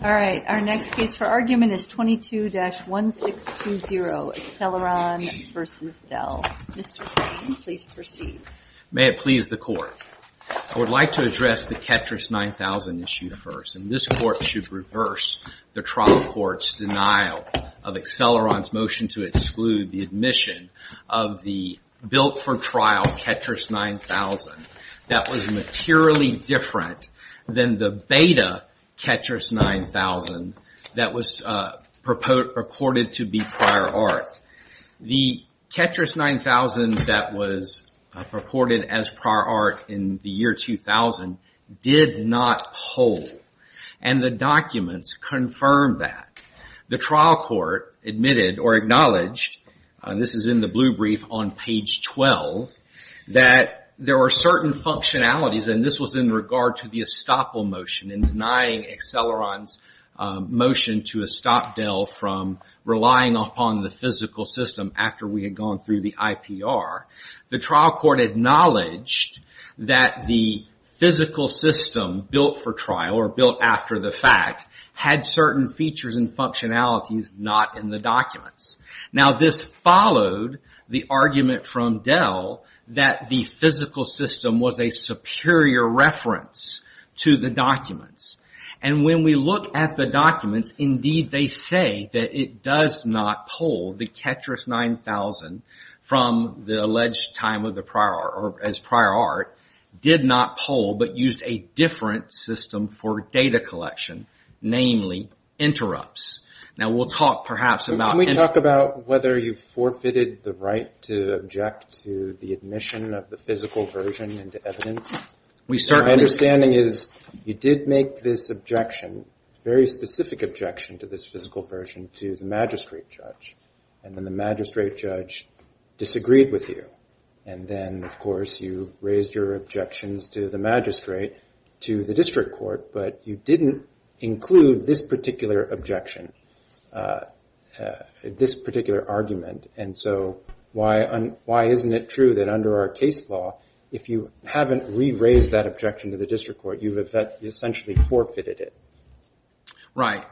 All right, our next case for argument is 22-1620 Acceleron v. Dell. Mr. Payne, please proceed. May it please the Court. I would like to address the Ketras 9000 issue first, and this Court should reverse the trial court's denial of Acceleron's motion to exclude the admission of the built-for-trial Ketras 9000 that was materially different than the beta Ketras 9000 that was purported to be prior art. The Ketras 9000 that was purported as prior art in the year 2000 did not pull, and the documents confirm that. The trial court admitted or in the blue brief on page 12 that there were certain functionalities, and this was in regard to the estoppel motion and denying Acceleron's motion to estop Dell from relying upon the physical system after we had gone through the IPR. The trial court acknowledged that the physical system built-for-trial or built after the fact had certain features and functionalities not in the documents. Now, this followed the argument from Dell that the physical system was a superior reference to the documents, and when we look at the documents, indeed they say that it does not pull. The Ketras 9000 from the alleged time as prior art did not pull, but used a different system for data collection, namely interrupts. Now, we'll talk perhaps about... Can we talk about whether you forfeited the right to object to the admission of the physical version into evidence? We certainly... My understanding is you did make this objection, very specific objection to this physical version to the magistrate judge, and then the magistrate judge disagreed with you, and then, of course, you raised your objections to the magistrate to the district court, but you didn't include this particular objection, this particular argument, and so why isn't it true that under our case law, if you haven't re-raised that objection to the district court, you've essentially forfeited it? Right.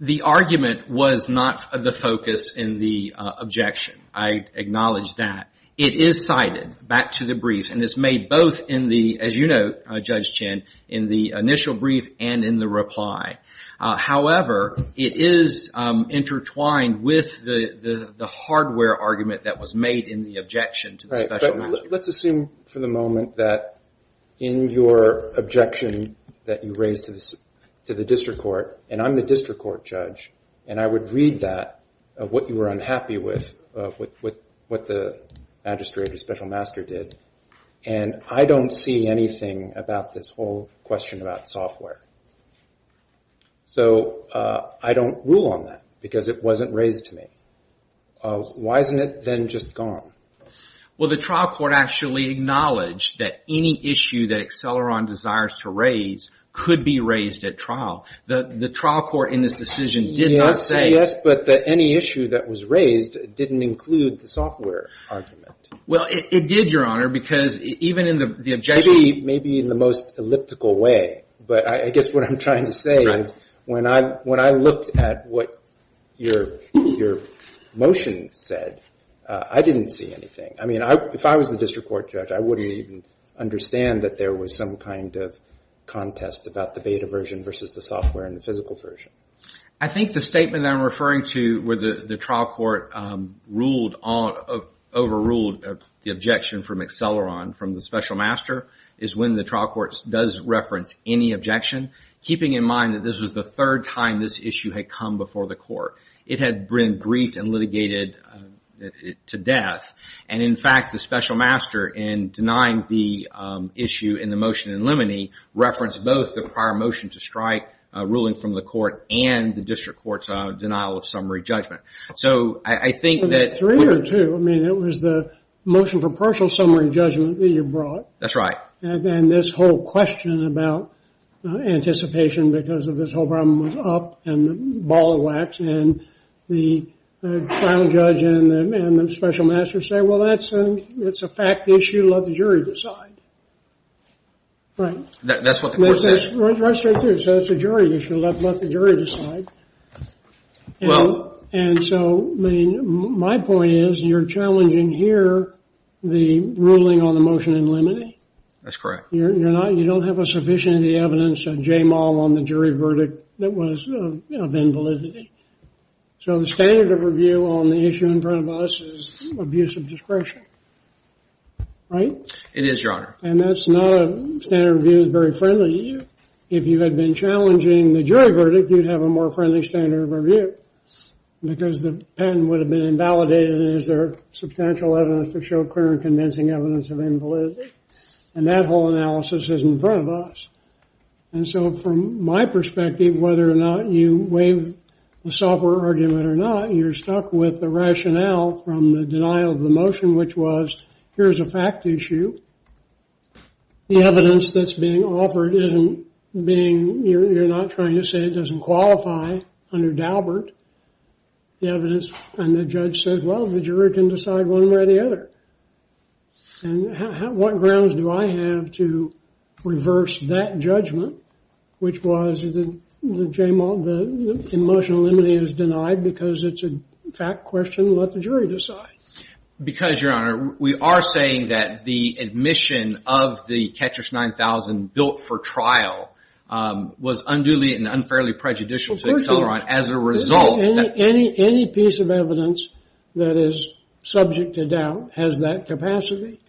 The argument was not the focus in the objection. I acknowledge that. It is cited back to the brief, and it's made both in the, as you know, Judge Chin, in the initial brief and in the reply. However, it is intertwined with the hardware argument that was made in the objection to the special master. Let's assume for the moment that in your objection that you raised to the district court, and I'm the district court judge, and I would read that, what you were unhappy with, with what the magistrate or special master did, and I don't see anything about this whole objection about software. So, I don't rule on that because it wasn't raised to me. Why isn't it then just gone? Well, the trial court actually acknowledged that any issue that Acceleron desires to raise could be raised at trial. The trial court in this decision did not say... Yes, but that any issue that was raised didn't include the software argument. Well, it did, Your Honor, because even in the objection... Maybe in the most elliptical way, but I guess what I'm trying to say is when I looked at what your motion said, I didn't see anything. I mean, if I was the district court judge, I wouldn't even understand that there was some kind of contest about the beta version versus the software and the physical version. I think the statement that I'm referring to where the trial court overruled the objection from Acceleron from the special master is when the trial court does reference any objection, keeping in mind that this was the third time this issue had come before the court. It had been briefed and litigated to death, and in fact, the special master in denying the issue in the motion in limine referenced both the prior motion to strike ruling from the court and the district court's denial of summary judgment. So I think that... Three or two. I mean, it was the motion for partial summary judgment that you brought. That's right. And then this whole question about anticipation because of this whole problem was up and the ball of wax, and the trial judge and the special master say, well, that's a fact issue. Let the jury decide. Right. That's what the court says? Right straight through. So it's a jury issue. Let the jury decide. Well... And so my point is you're challenging here the ruling on the motion in limine. That's correct. You're not, you don't have a sufficient of the evidence on J Moll on the jury verdict that was of invalidity. So the standard of review on the issue in front of us is abuse of discretion. Right? It is, Your Honor. And that's not a standard review that's very friendly to you. If you had been challenging the jury verdict, you'd have a more friendly standard of review because the patent would have been invalidated. Is there substantial evidence to show clear and convincing evidence of invalidity? And that whole analysis is in front of us. And so from my perspective, whether or not you waive the software argument or not, you're stuck with the rationale from the denial of the motion, which was, here's a fact issue. And the evidence that's being offered isn't being, you're not trying to say it doesn't qualify under Daubert. The evidence, and the judge says, well, the jury can decide one way or the other. And what grounds do I have to reverse that judgment, which was the J Moll, the emotional enmity is denied because it's a fact question. Let the jury decide. Because Your Honor, we are saying that the admission of the Ketcher's 9000 built for trial was unduly and unfairly prejudicial to Acceleron as a result. Any piece of evidence that is subject to doubt has that capacity.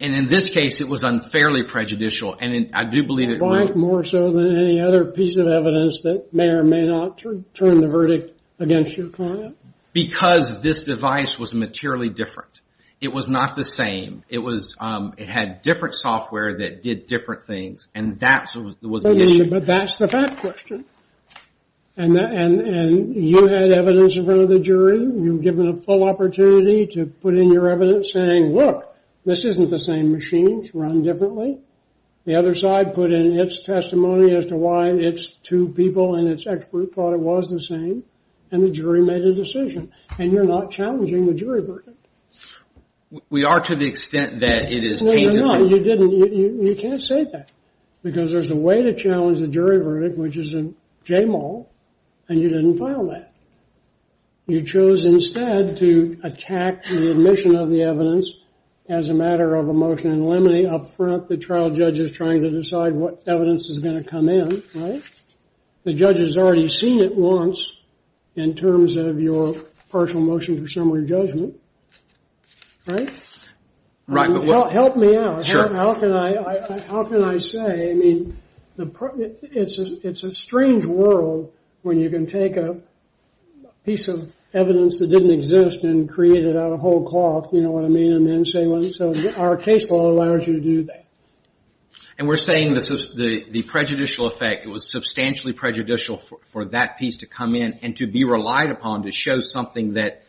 And in this case, it was unfairly prejudicial. And I do believe it was. More so than any other piece of evidence that may or may not turn the verdict against your client. Because this device was materially different. It was not the same. It was, it had different software that did different things. And that was the issue. But that's the fact question. And you had evidence in front of the jury. You've given a full opportunity to put in your evidence saying, look, this isn't the same machine. It's run differently. The other side put in its testimony as to why its two people and its expert thought it was the same. And the jury made a decision. And you're not challenging the jury verdict. We are to the extent that it is tainted. No, you're not. You didn't. You can't say that. Because there's a way to challenge the jury verdict, which is in J. Moll. And you didn't file that. You chose instead to attack the admission of the evidence as a matter of emotional enmity up front. The trial judge is trying to decide what evidence is going to come in, right? The judge has already seen it once in terms of your partial motion for similar judgment. Right? Right. Help me out. Sure. How can I, how can I say, I mean, it's a strange world when you can take a piece of evidence that didn't exist and create it out of whole cloth, you know what I mean? And then say, so our case law allows you to do that. And we're saying this is the prejudicial effect. It was substantially prejudicial for that piece to come in and to be relied upon to show something that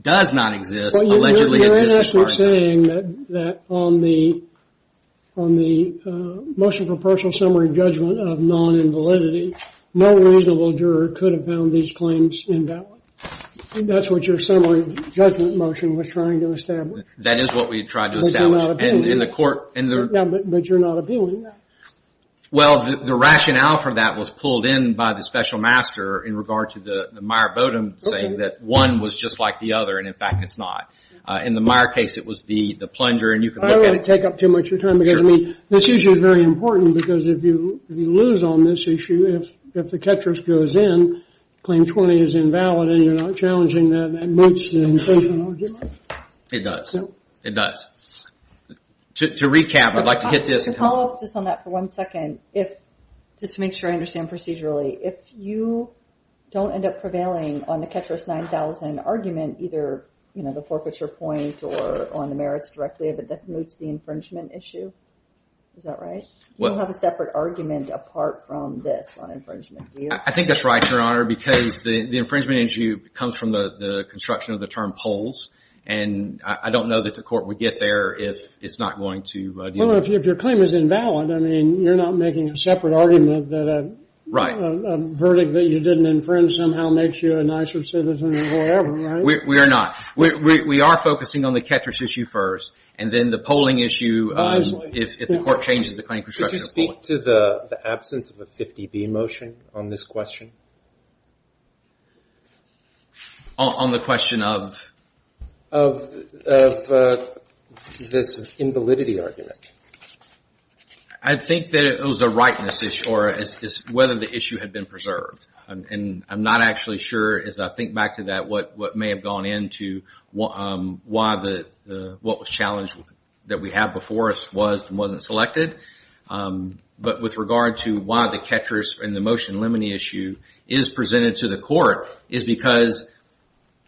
does not exist, allegedly exists. You're actually saying that on the motion for partial summary judgment of non-invalidity, no reasonable juror could have found these claims invalid. That's what your summary judgment motion was trying to establish. That is what we tried to establish in the court. But you're not appealing that. Well, the rationale for that was pulled in by the special master in regard to the Meyer Bodum saying that one was just like the other, and in fact, it's not. In the Meyer case, it was the plunger. I don't want to take up too much of your time because, I mean, this issue is very important because if you lose on this issue, if the catcher goes in, claim 20 is invalid and you're not challenging that, that moots the inclusion argument. It does. It does. To recap, I'd like to hit this. To follow up just on that for one second, just to make sure I understand procedurally, if you don't end up prevailing on the catcher's 9,000 argument, either the forfeiture point or on the merits directly, that moots the infringement issue. Is that right? You don't have a separate argument apart from this on infringement, do you? I think that's right, Your Honor, because the infringement issue comes from the construction of the term polls, and I don't know that the court would get there if it's not going to deal with it. Well, if your claim is invalid, I mean, you're not making a separate argument that a verdict that you didn't infringe somehow makes you a nicer citizen or whatever, right? We are not. We are focusing on the catcher's issue first, and then the polling issue, if the court changes the claim construction of polling. Could you speak to the absence of a 50B motion on this question? On the question of? Of this invalidity argument. I think that it was a rightness issue, or whether the issue had been preserved. And I'm not actually sure, as I think back to that, what may have gone into why the challenge that we had before us was and wasn't selected. But with regard to why the catcher's and the limoney issue is presented to the court is because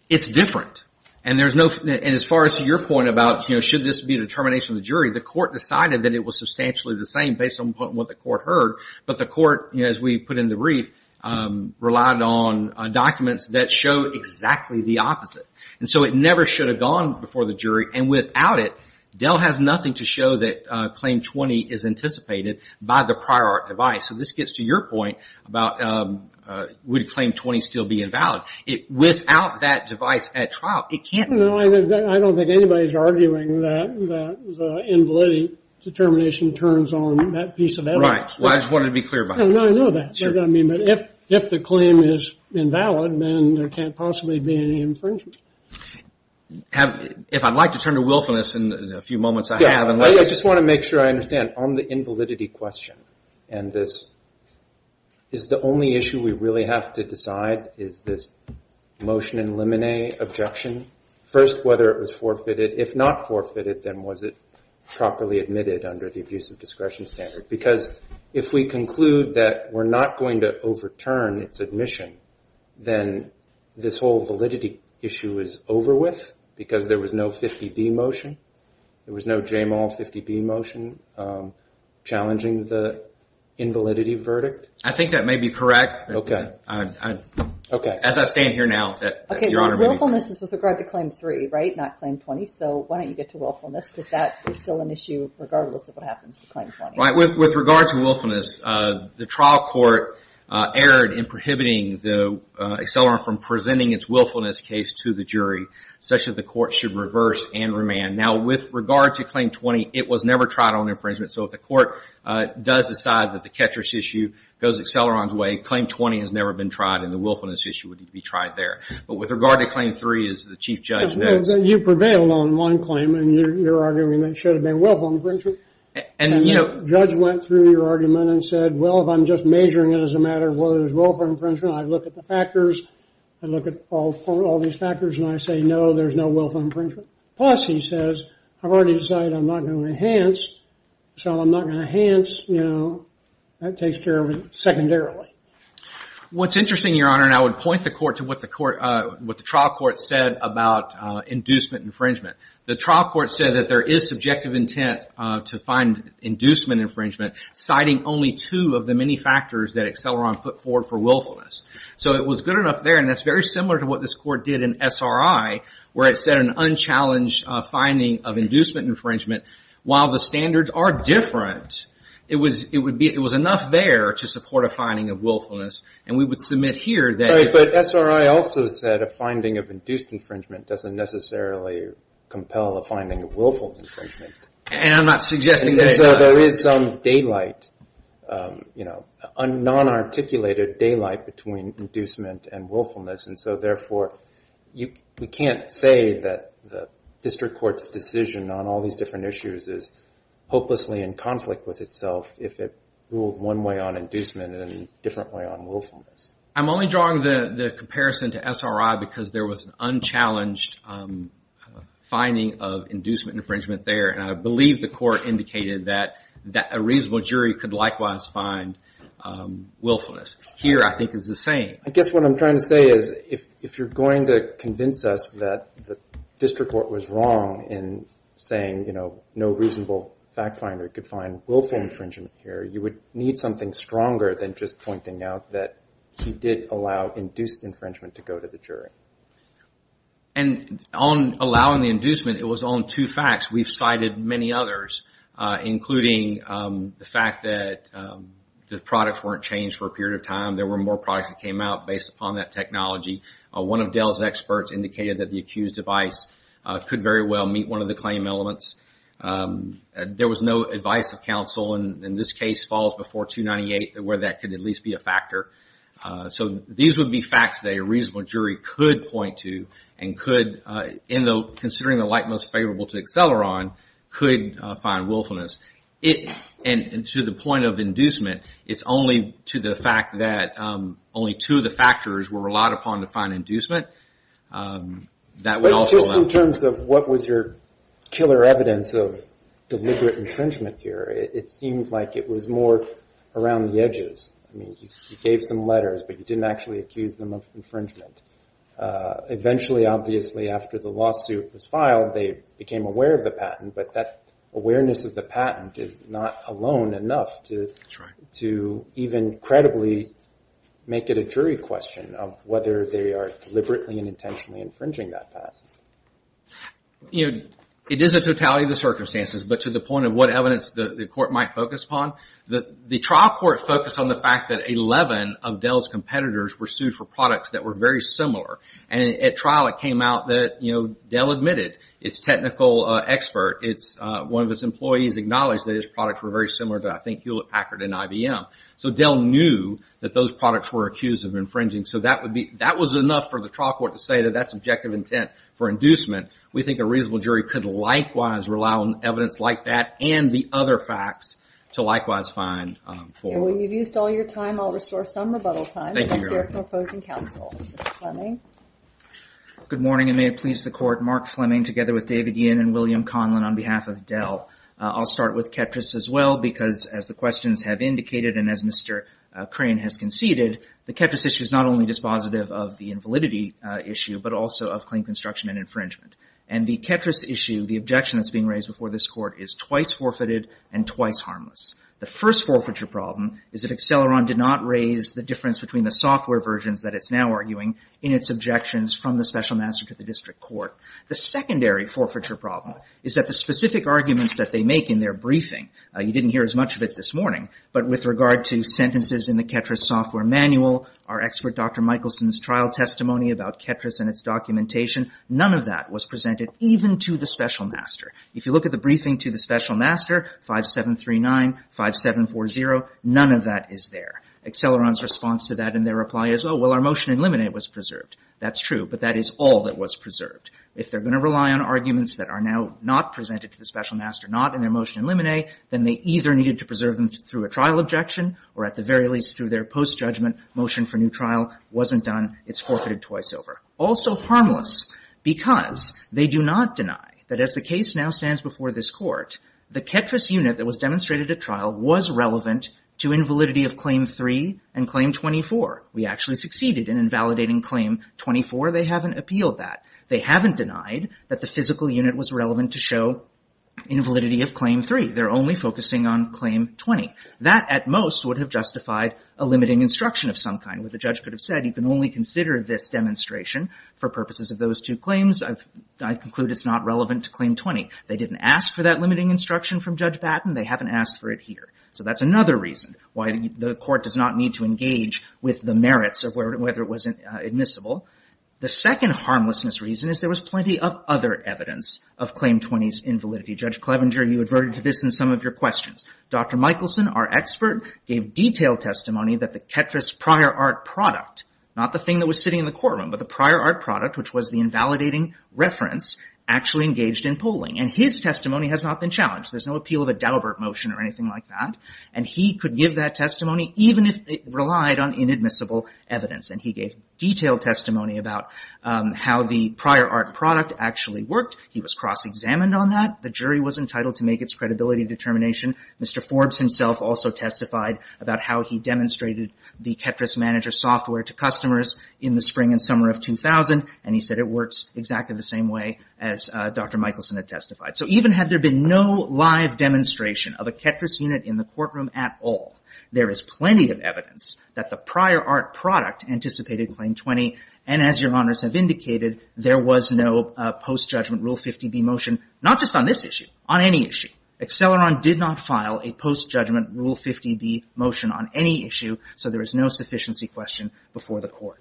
it's different. And as far as your point about should this be the determination of the jury, the court decided that it was substantially the same based on what the court heard. But the court, as we put in the brief, relied on documents that show exactly the opposite. And so it never should have gone before the jury. And without it, Dell has nothing to say about would a claim 20 still be invalid. Without that device at trial, it can't. I don't think anybody's arguing that the invalidity determination turns on that piece of evidence. Right. Well, I just wanted to be clear about that. No, I know that. But if the claim is invalid, then there can't possibly be any infringement. If I'd like to turn to willfulness in a few moments, I have. I just want to make sure I understand. On the invalidity question, and this is the only issue we really have to decide, is this motion in limoney objection. First, whether it was forfeited. If not forfeited, then was it properly admitted under the abuse of discretion standard? Because if we conclude that we're not going to overturn its admission, then this whole 50-B motion challenging the invalidity verdict? I think that may be correct. As I stand here now, Your Honor. Willfulness is with regard to claim 3, right? Not claim 20. So why don't you get to willfulness? Because that is still an issue regardless of what happens to claim 20. With regard to willfulness, the trial court erred in prohibiting the accelerant from presenting its willfulness case to the jury, such that the court should reverse and remand. Now, with regard to claim 20, it was never tried on infringement. So if the court does decide that the catcher's issue goes accelerant's way, claim 20 has never been tried, and the willfulness issue would be tried there. But with regard to claim 3, as the Chief Judge notes... You prevailed on one claim, and your argument should have been willful infringement. And the judge went through your argument and said, well, if I'm just measuring it as a matter of whether there's willful infringement, I look at the factors, I look at all these factors, and I say, no, there's no willful infringement. Plus, he says, I've already decided I'm not going to enhance, so I'm not going to enhance. You know, that takes care of it secondarily. What's interesting, Your Honor, and I would point the court to what the trial court said about inducement infringement. The trial court said that there is subjective intent to find inducement infringement, citing only two of the many factors that accelerant put forward for willfulness. So it was good enough there, and that's very similar to what this court did in SRI, where it said an unchallenged finding of inducement infringement. While the standards are different, it was enough there to support a finding of willfulness. And we would submit here that... But SRI also said a finding of induced infringement doesn't necessarily compel a finding of willful infringement. And I'm not suggesting that it does. So there is some daylight, you know, a non-articulated daylight between inducement and willfulness. And so, therefore, we can't say that the district court's decision on all these different issues is hopelessly in conflict with itself if it ruled one way on inducement and a different way on willfulness. I'm only drawing the comparison to SRI because there was an unchallenged finding of inducement infringement there. And I believe the court indicated that a reasonable jury could likewise find willfulness. Here, I think, is the same. I guess what I'm trying to say is if you're going to convince us that the district court was wrong in saying, you know, no reasonable fact finder could find willful infringement here, you would need something stronger than just pointing out that he did allow induced infringement to go to the jury. And on allowing the inducement, it was on two facts. We've cited many others, including the fact that the products weren't changed for a period of time. There were more products that came out based upon that technology. One of Dell's experts indicated that the accused device could very well meet one of the claim elements. There was no advice of counsel, and this case falls before 298, where that could at least be a factor. So these would be facts that a reasonable jury could point to and could, considering the light most favorable to acceleron, could find willfulness. And to the point of inducement, it's only to the fact that only two of the factors were relied upon to find inducement. But just in terms of what was your killer evidence of deliberate infringement here, it seemed like it was more around the edges. I mean, you gave some letters, but you didn't actually accuse them of infringement. Eventually, obviously, after the lawsuit was filed, they became aware of the patent, but that awareness of the patent is not alone enough to even credibly make it a jury question of whether they are deliberately and intentionally infringing that patent. You know, it is a totality of the circumstances, but to the point of what evidence the court might focus upon, the trial court focused on the fact that 11 of Dell's competitors were sued for products that were very similar. And at trial, it came out that Dell admitted its technical expert. One of its employees acknowledged that his products were very similar to, I think, Hewlett-Packard and IBM. So Dell knew that those products were accused of infringing. So that was enough for the trial court to say that that's objective intent for inducement. We think a reasonable jury could likewise rely on evidence like that and the other facts to likewise find fault. Thank you. Well, you've used all your time. I'll restore some rebuttal time. Thank you very much. To your proposing counsel. Mr. Fleming? Good morning, and may it please the Court. Mark Fleming together with David Yin and William Conlin on behalf of Dell. I'll start with Ketras as well because, as the questions have indicated and as Mr. Crain has conceded, the Ketras issue is not only dispositive of the invalidity issue, but also of claim construction and infringement. And the Ketras issue, the objection that's being raised before this Court, is twice forfeited and twice harmless. The first forfeiture problem is that Acceleron did not raise the difference between the software versions that it's now arguing in its objections from the Special Master to the District Court. The secondary forfeiture problem is that the specific arguments that they make in their briefing, you didn't hear as much of it this morning, but with regard to sentences in the Ketras software manual, our expert Dr. Michelson's trial testimony about Ketras and its documentation, none of that was presented even to the Special Master. If you look at the briefing to the Special Master, 5739, 5740, none of that is there. Acceleron's response to that in their reply is, oh, well, our motion in limine was preserved. That's true, but that is all that was preserved. If they're going to rely on arguments that are now not presented to the Special Master, not in their motion in limine, then they either needed to preserve them through a trial objection or at the very least through their post-judgment motion for new trial wasn't done, it's forfeited twice over. Also harmless because they do not deny that as the case now stands before this court, the Ketras unit that was demonstrated at trial was relevant to invalidity of Claim 3 and Claim 24. We actually succeeded in invalidating Claim 24. They haven't appealed that. They haven't denied that the physical unit was relevant to show invalidity of Claim 3. They're only focusing on Claim 20. That at most would have justified a limiting instruction of some kind where the judge could have said you can only consider this demonstration for purposes of those two claims. I conclude it's not relevant to Claim 20. They didn't ask for that limiting instruction from Judge Batten. They haven't asked for it here. So that's another reason why the court does not need to engage with the merits of whether it was admissible. The second harmlessness reason is there was plenty of other evidence of Claim 20's invalidity. Judge Clevenger, you adverted to this in some of your questions. Dr. Michelson, our expert, gave detailed testimony that the Ketras prior art product, not the thing that was sitting in the courtroom, but the prior art product, which was the invalidating reference, actually engaged in polling. And his testimony has not been challenged. There's no appeal of a Daubert motion or anything like that. And he could give that testimony even if it relied on inadmissible evidence. And he gave detailed testimony about how the prior art product actually worked. He was cross-examined on that. The jury was entitled to make its credibility determination. Mr. Forbes himself also testified about how he demonstrated the Ketras manager software to customers in the spring and summer of 2000. And he said it works exactly the same way as Dr. Michelson had testified. So even had there been no live demonstration of a Ketras unit in the courtroom at all, there is plenty of evidence that the prior art product anticipated Claim 20. And as your honors have indicated, there was no post-judgment Rule 50b motion, not just on this issue, on any issue. Acceleron did not file a post-judgment Rule 50b motion on any issue. So there is no sufficiency question before the court.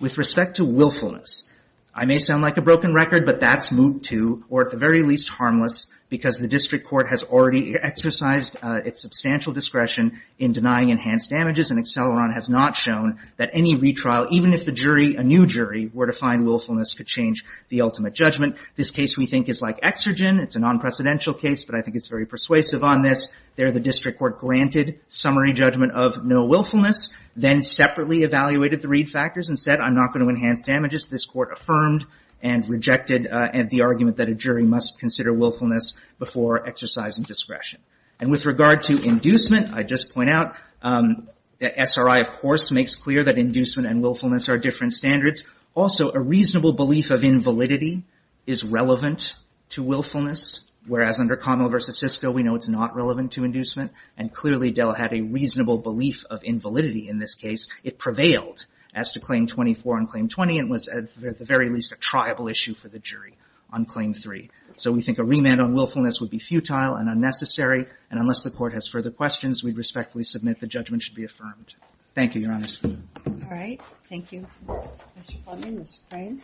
With respect to willfulness, I may sound like a broken record, but that's moot too, or at the very least harmless, because the district court has already exercised its substantial discretion in denying enhanced damages. And Acceleron has not shown that any retrial, even if the jury, a new jury, were to find willfulness could change the ultimate judgment. This case, we think, is like Exergen. It's a non-precedential case, but I think it's very persuasive on this. There, the district court granted summary judgment of no willfulness, then separately evaluated the read factors and said, I'm not going to enhance damages. This court affirmed and rejected the argument that a jury must consider willfulness before exercising discretion. And with regard to inducement, I just point out that SRI, of course, makes clear that inducement and willfulness are different standards. Also, a reasonable belief of invalidity is relevant to willfulness, whereas under Connell v. Sisko, we know it's not relevant to inducement. And clearly, Dell had a reasonable belief of invalidity in this case. It prevailed as to Claim 24 and Claim 20, and was at the very least a triable issue for the jury on Claim 3. So we think a remand on willfulness would be futile and unnecessary. And unless the Court has further questions, we'd respectfully submit the judgment should be affirmed. Thank you, Your Honor. Questions? All right. Thank you. Mr. Fleming? Mr. Fray?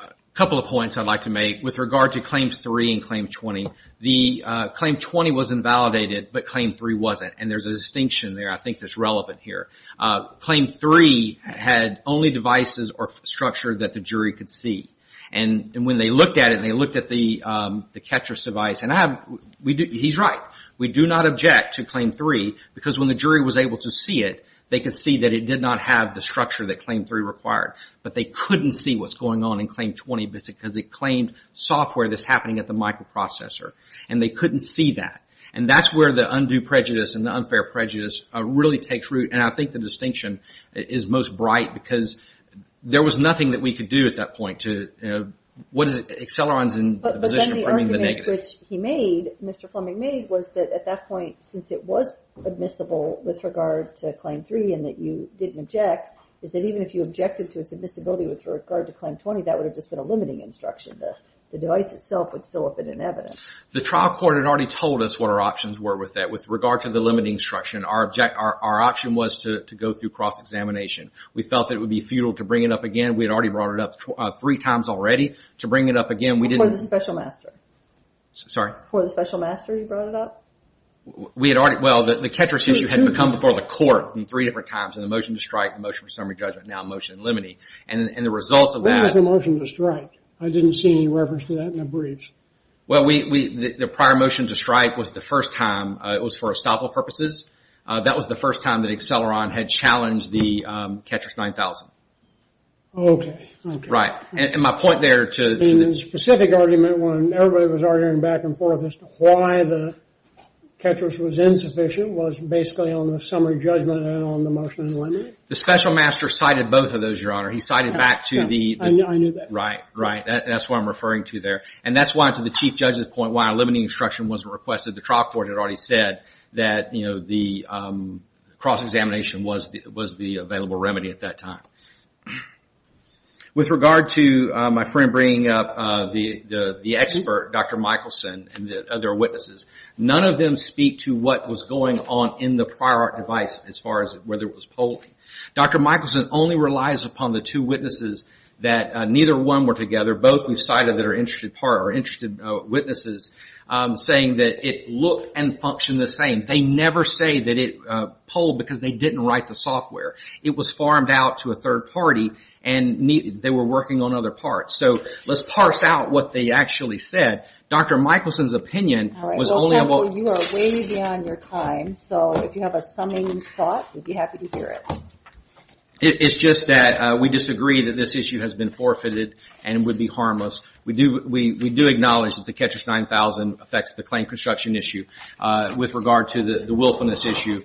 A couple of points I'd like to make. With regard to Claims 3 and Claim 20, the Claim 20 was invalidated, but Claim 3 wasn't. And there's a distinction there I think that's relevant here. Claim 3 had only devices or structure that the jury could see. And when they looked at it and they looked at the catcher's device, and he's right, we do not object to Claim 3 because when the jury was able to see it, it did not have the structure that Claim 3 required. But they couldn't see what's going on in Claim 20 because it claimed software that's happening at the microprocessor. And they couldn't see that. And that's where the undue prejudice and the unfair prejudice really takes root. And I think the distinction is most bright because there was nothing that we could do at that point to, you know, what is it, Acceleron's in a position of putting the negative. But then the argument which he made, Mr. Fleming made, was that at that point since it was admissible with regard to Claim 3 and that you didn't object, is that even if you objected to its admissibility with regard to Claim 20, that would have just been a limiting instruction. The device itself would still have been an evidence. The trial court had already told us what our options were with that. With regard to the limiting instruction, our option was to go through cross-examination. We felt that it would be futile to bring it up again. We had already brought it up three times already. To bring it up again, we didn't… Before the special master. Sorry? Before the special master you brought it up? We had already… Well, the Ketras issue had come before the court in three different times. In the motion to strike, the motion for summary judgment, now motion in limine. And the result of that… When was the motion to strike? I didn't see any reference to that in the briefs. Well, we… The prior motion to strike was the first time. It was for estoppel purposes. That was the first time that Acceleron had challenged the Ketras 9000. Okay. Right. And my point there to… In the specific argument when everybody was arguing back and forth as to why the Ketras was insufficient was basically on the summary judgment and on the motion in limine? The special master cited both of those, your honor. He cited back to the… I knew that. Right, right. That's what I'm referring to there. And that's why, to the chief judge's point, why a limiting instruction wasn't requested. The trial court had already said that, you know, the cross-examination was the available remedy at that time. With regard to my friend bringing up the expert, Dr. Michelson, and the other witnesses, none of them speak to what was going on in the prior device as far as whether it was polling. Dr. Michelson only relies upon the two witnesses that neither one were together. Both were cited that are interested witnesses saying that it looked and functioned the same. They never say that it polled because they didn't write the software. It was farmed out to a third party and they were working on other parts. So, let's parse out what they actually said. Dr. Michelson's opinion was only about… All right, counsel, you are way beyond your time. So, if you have a summing thought, we'd be happy to hear it. It's just that we disagree that this issue has been forfeited and would be harmless. We do acknowledge that the Catcher's 9000 affects the claim construction issue. With regard to the willfulness issue,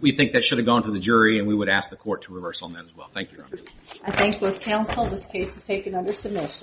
we think that should have gone to the jury and we would ask the court to reverse on that as well. Thank you. I thank both counsel. This case is taken under submission.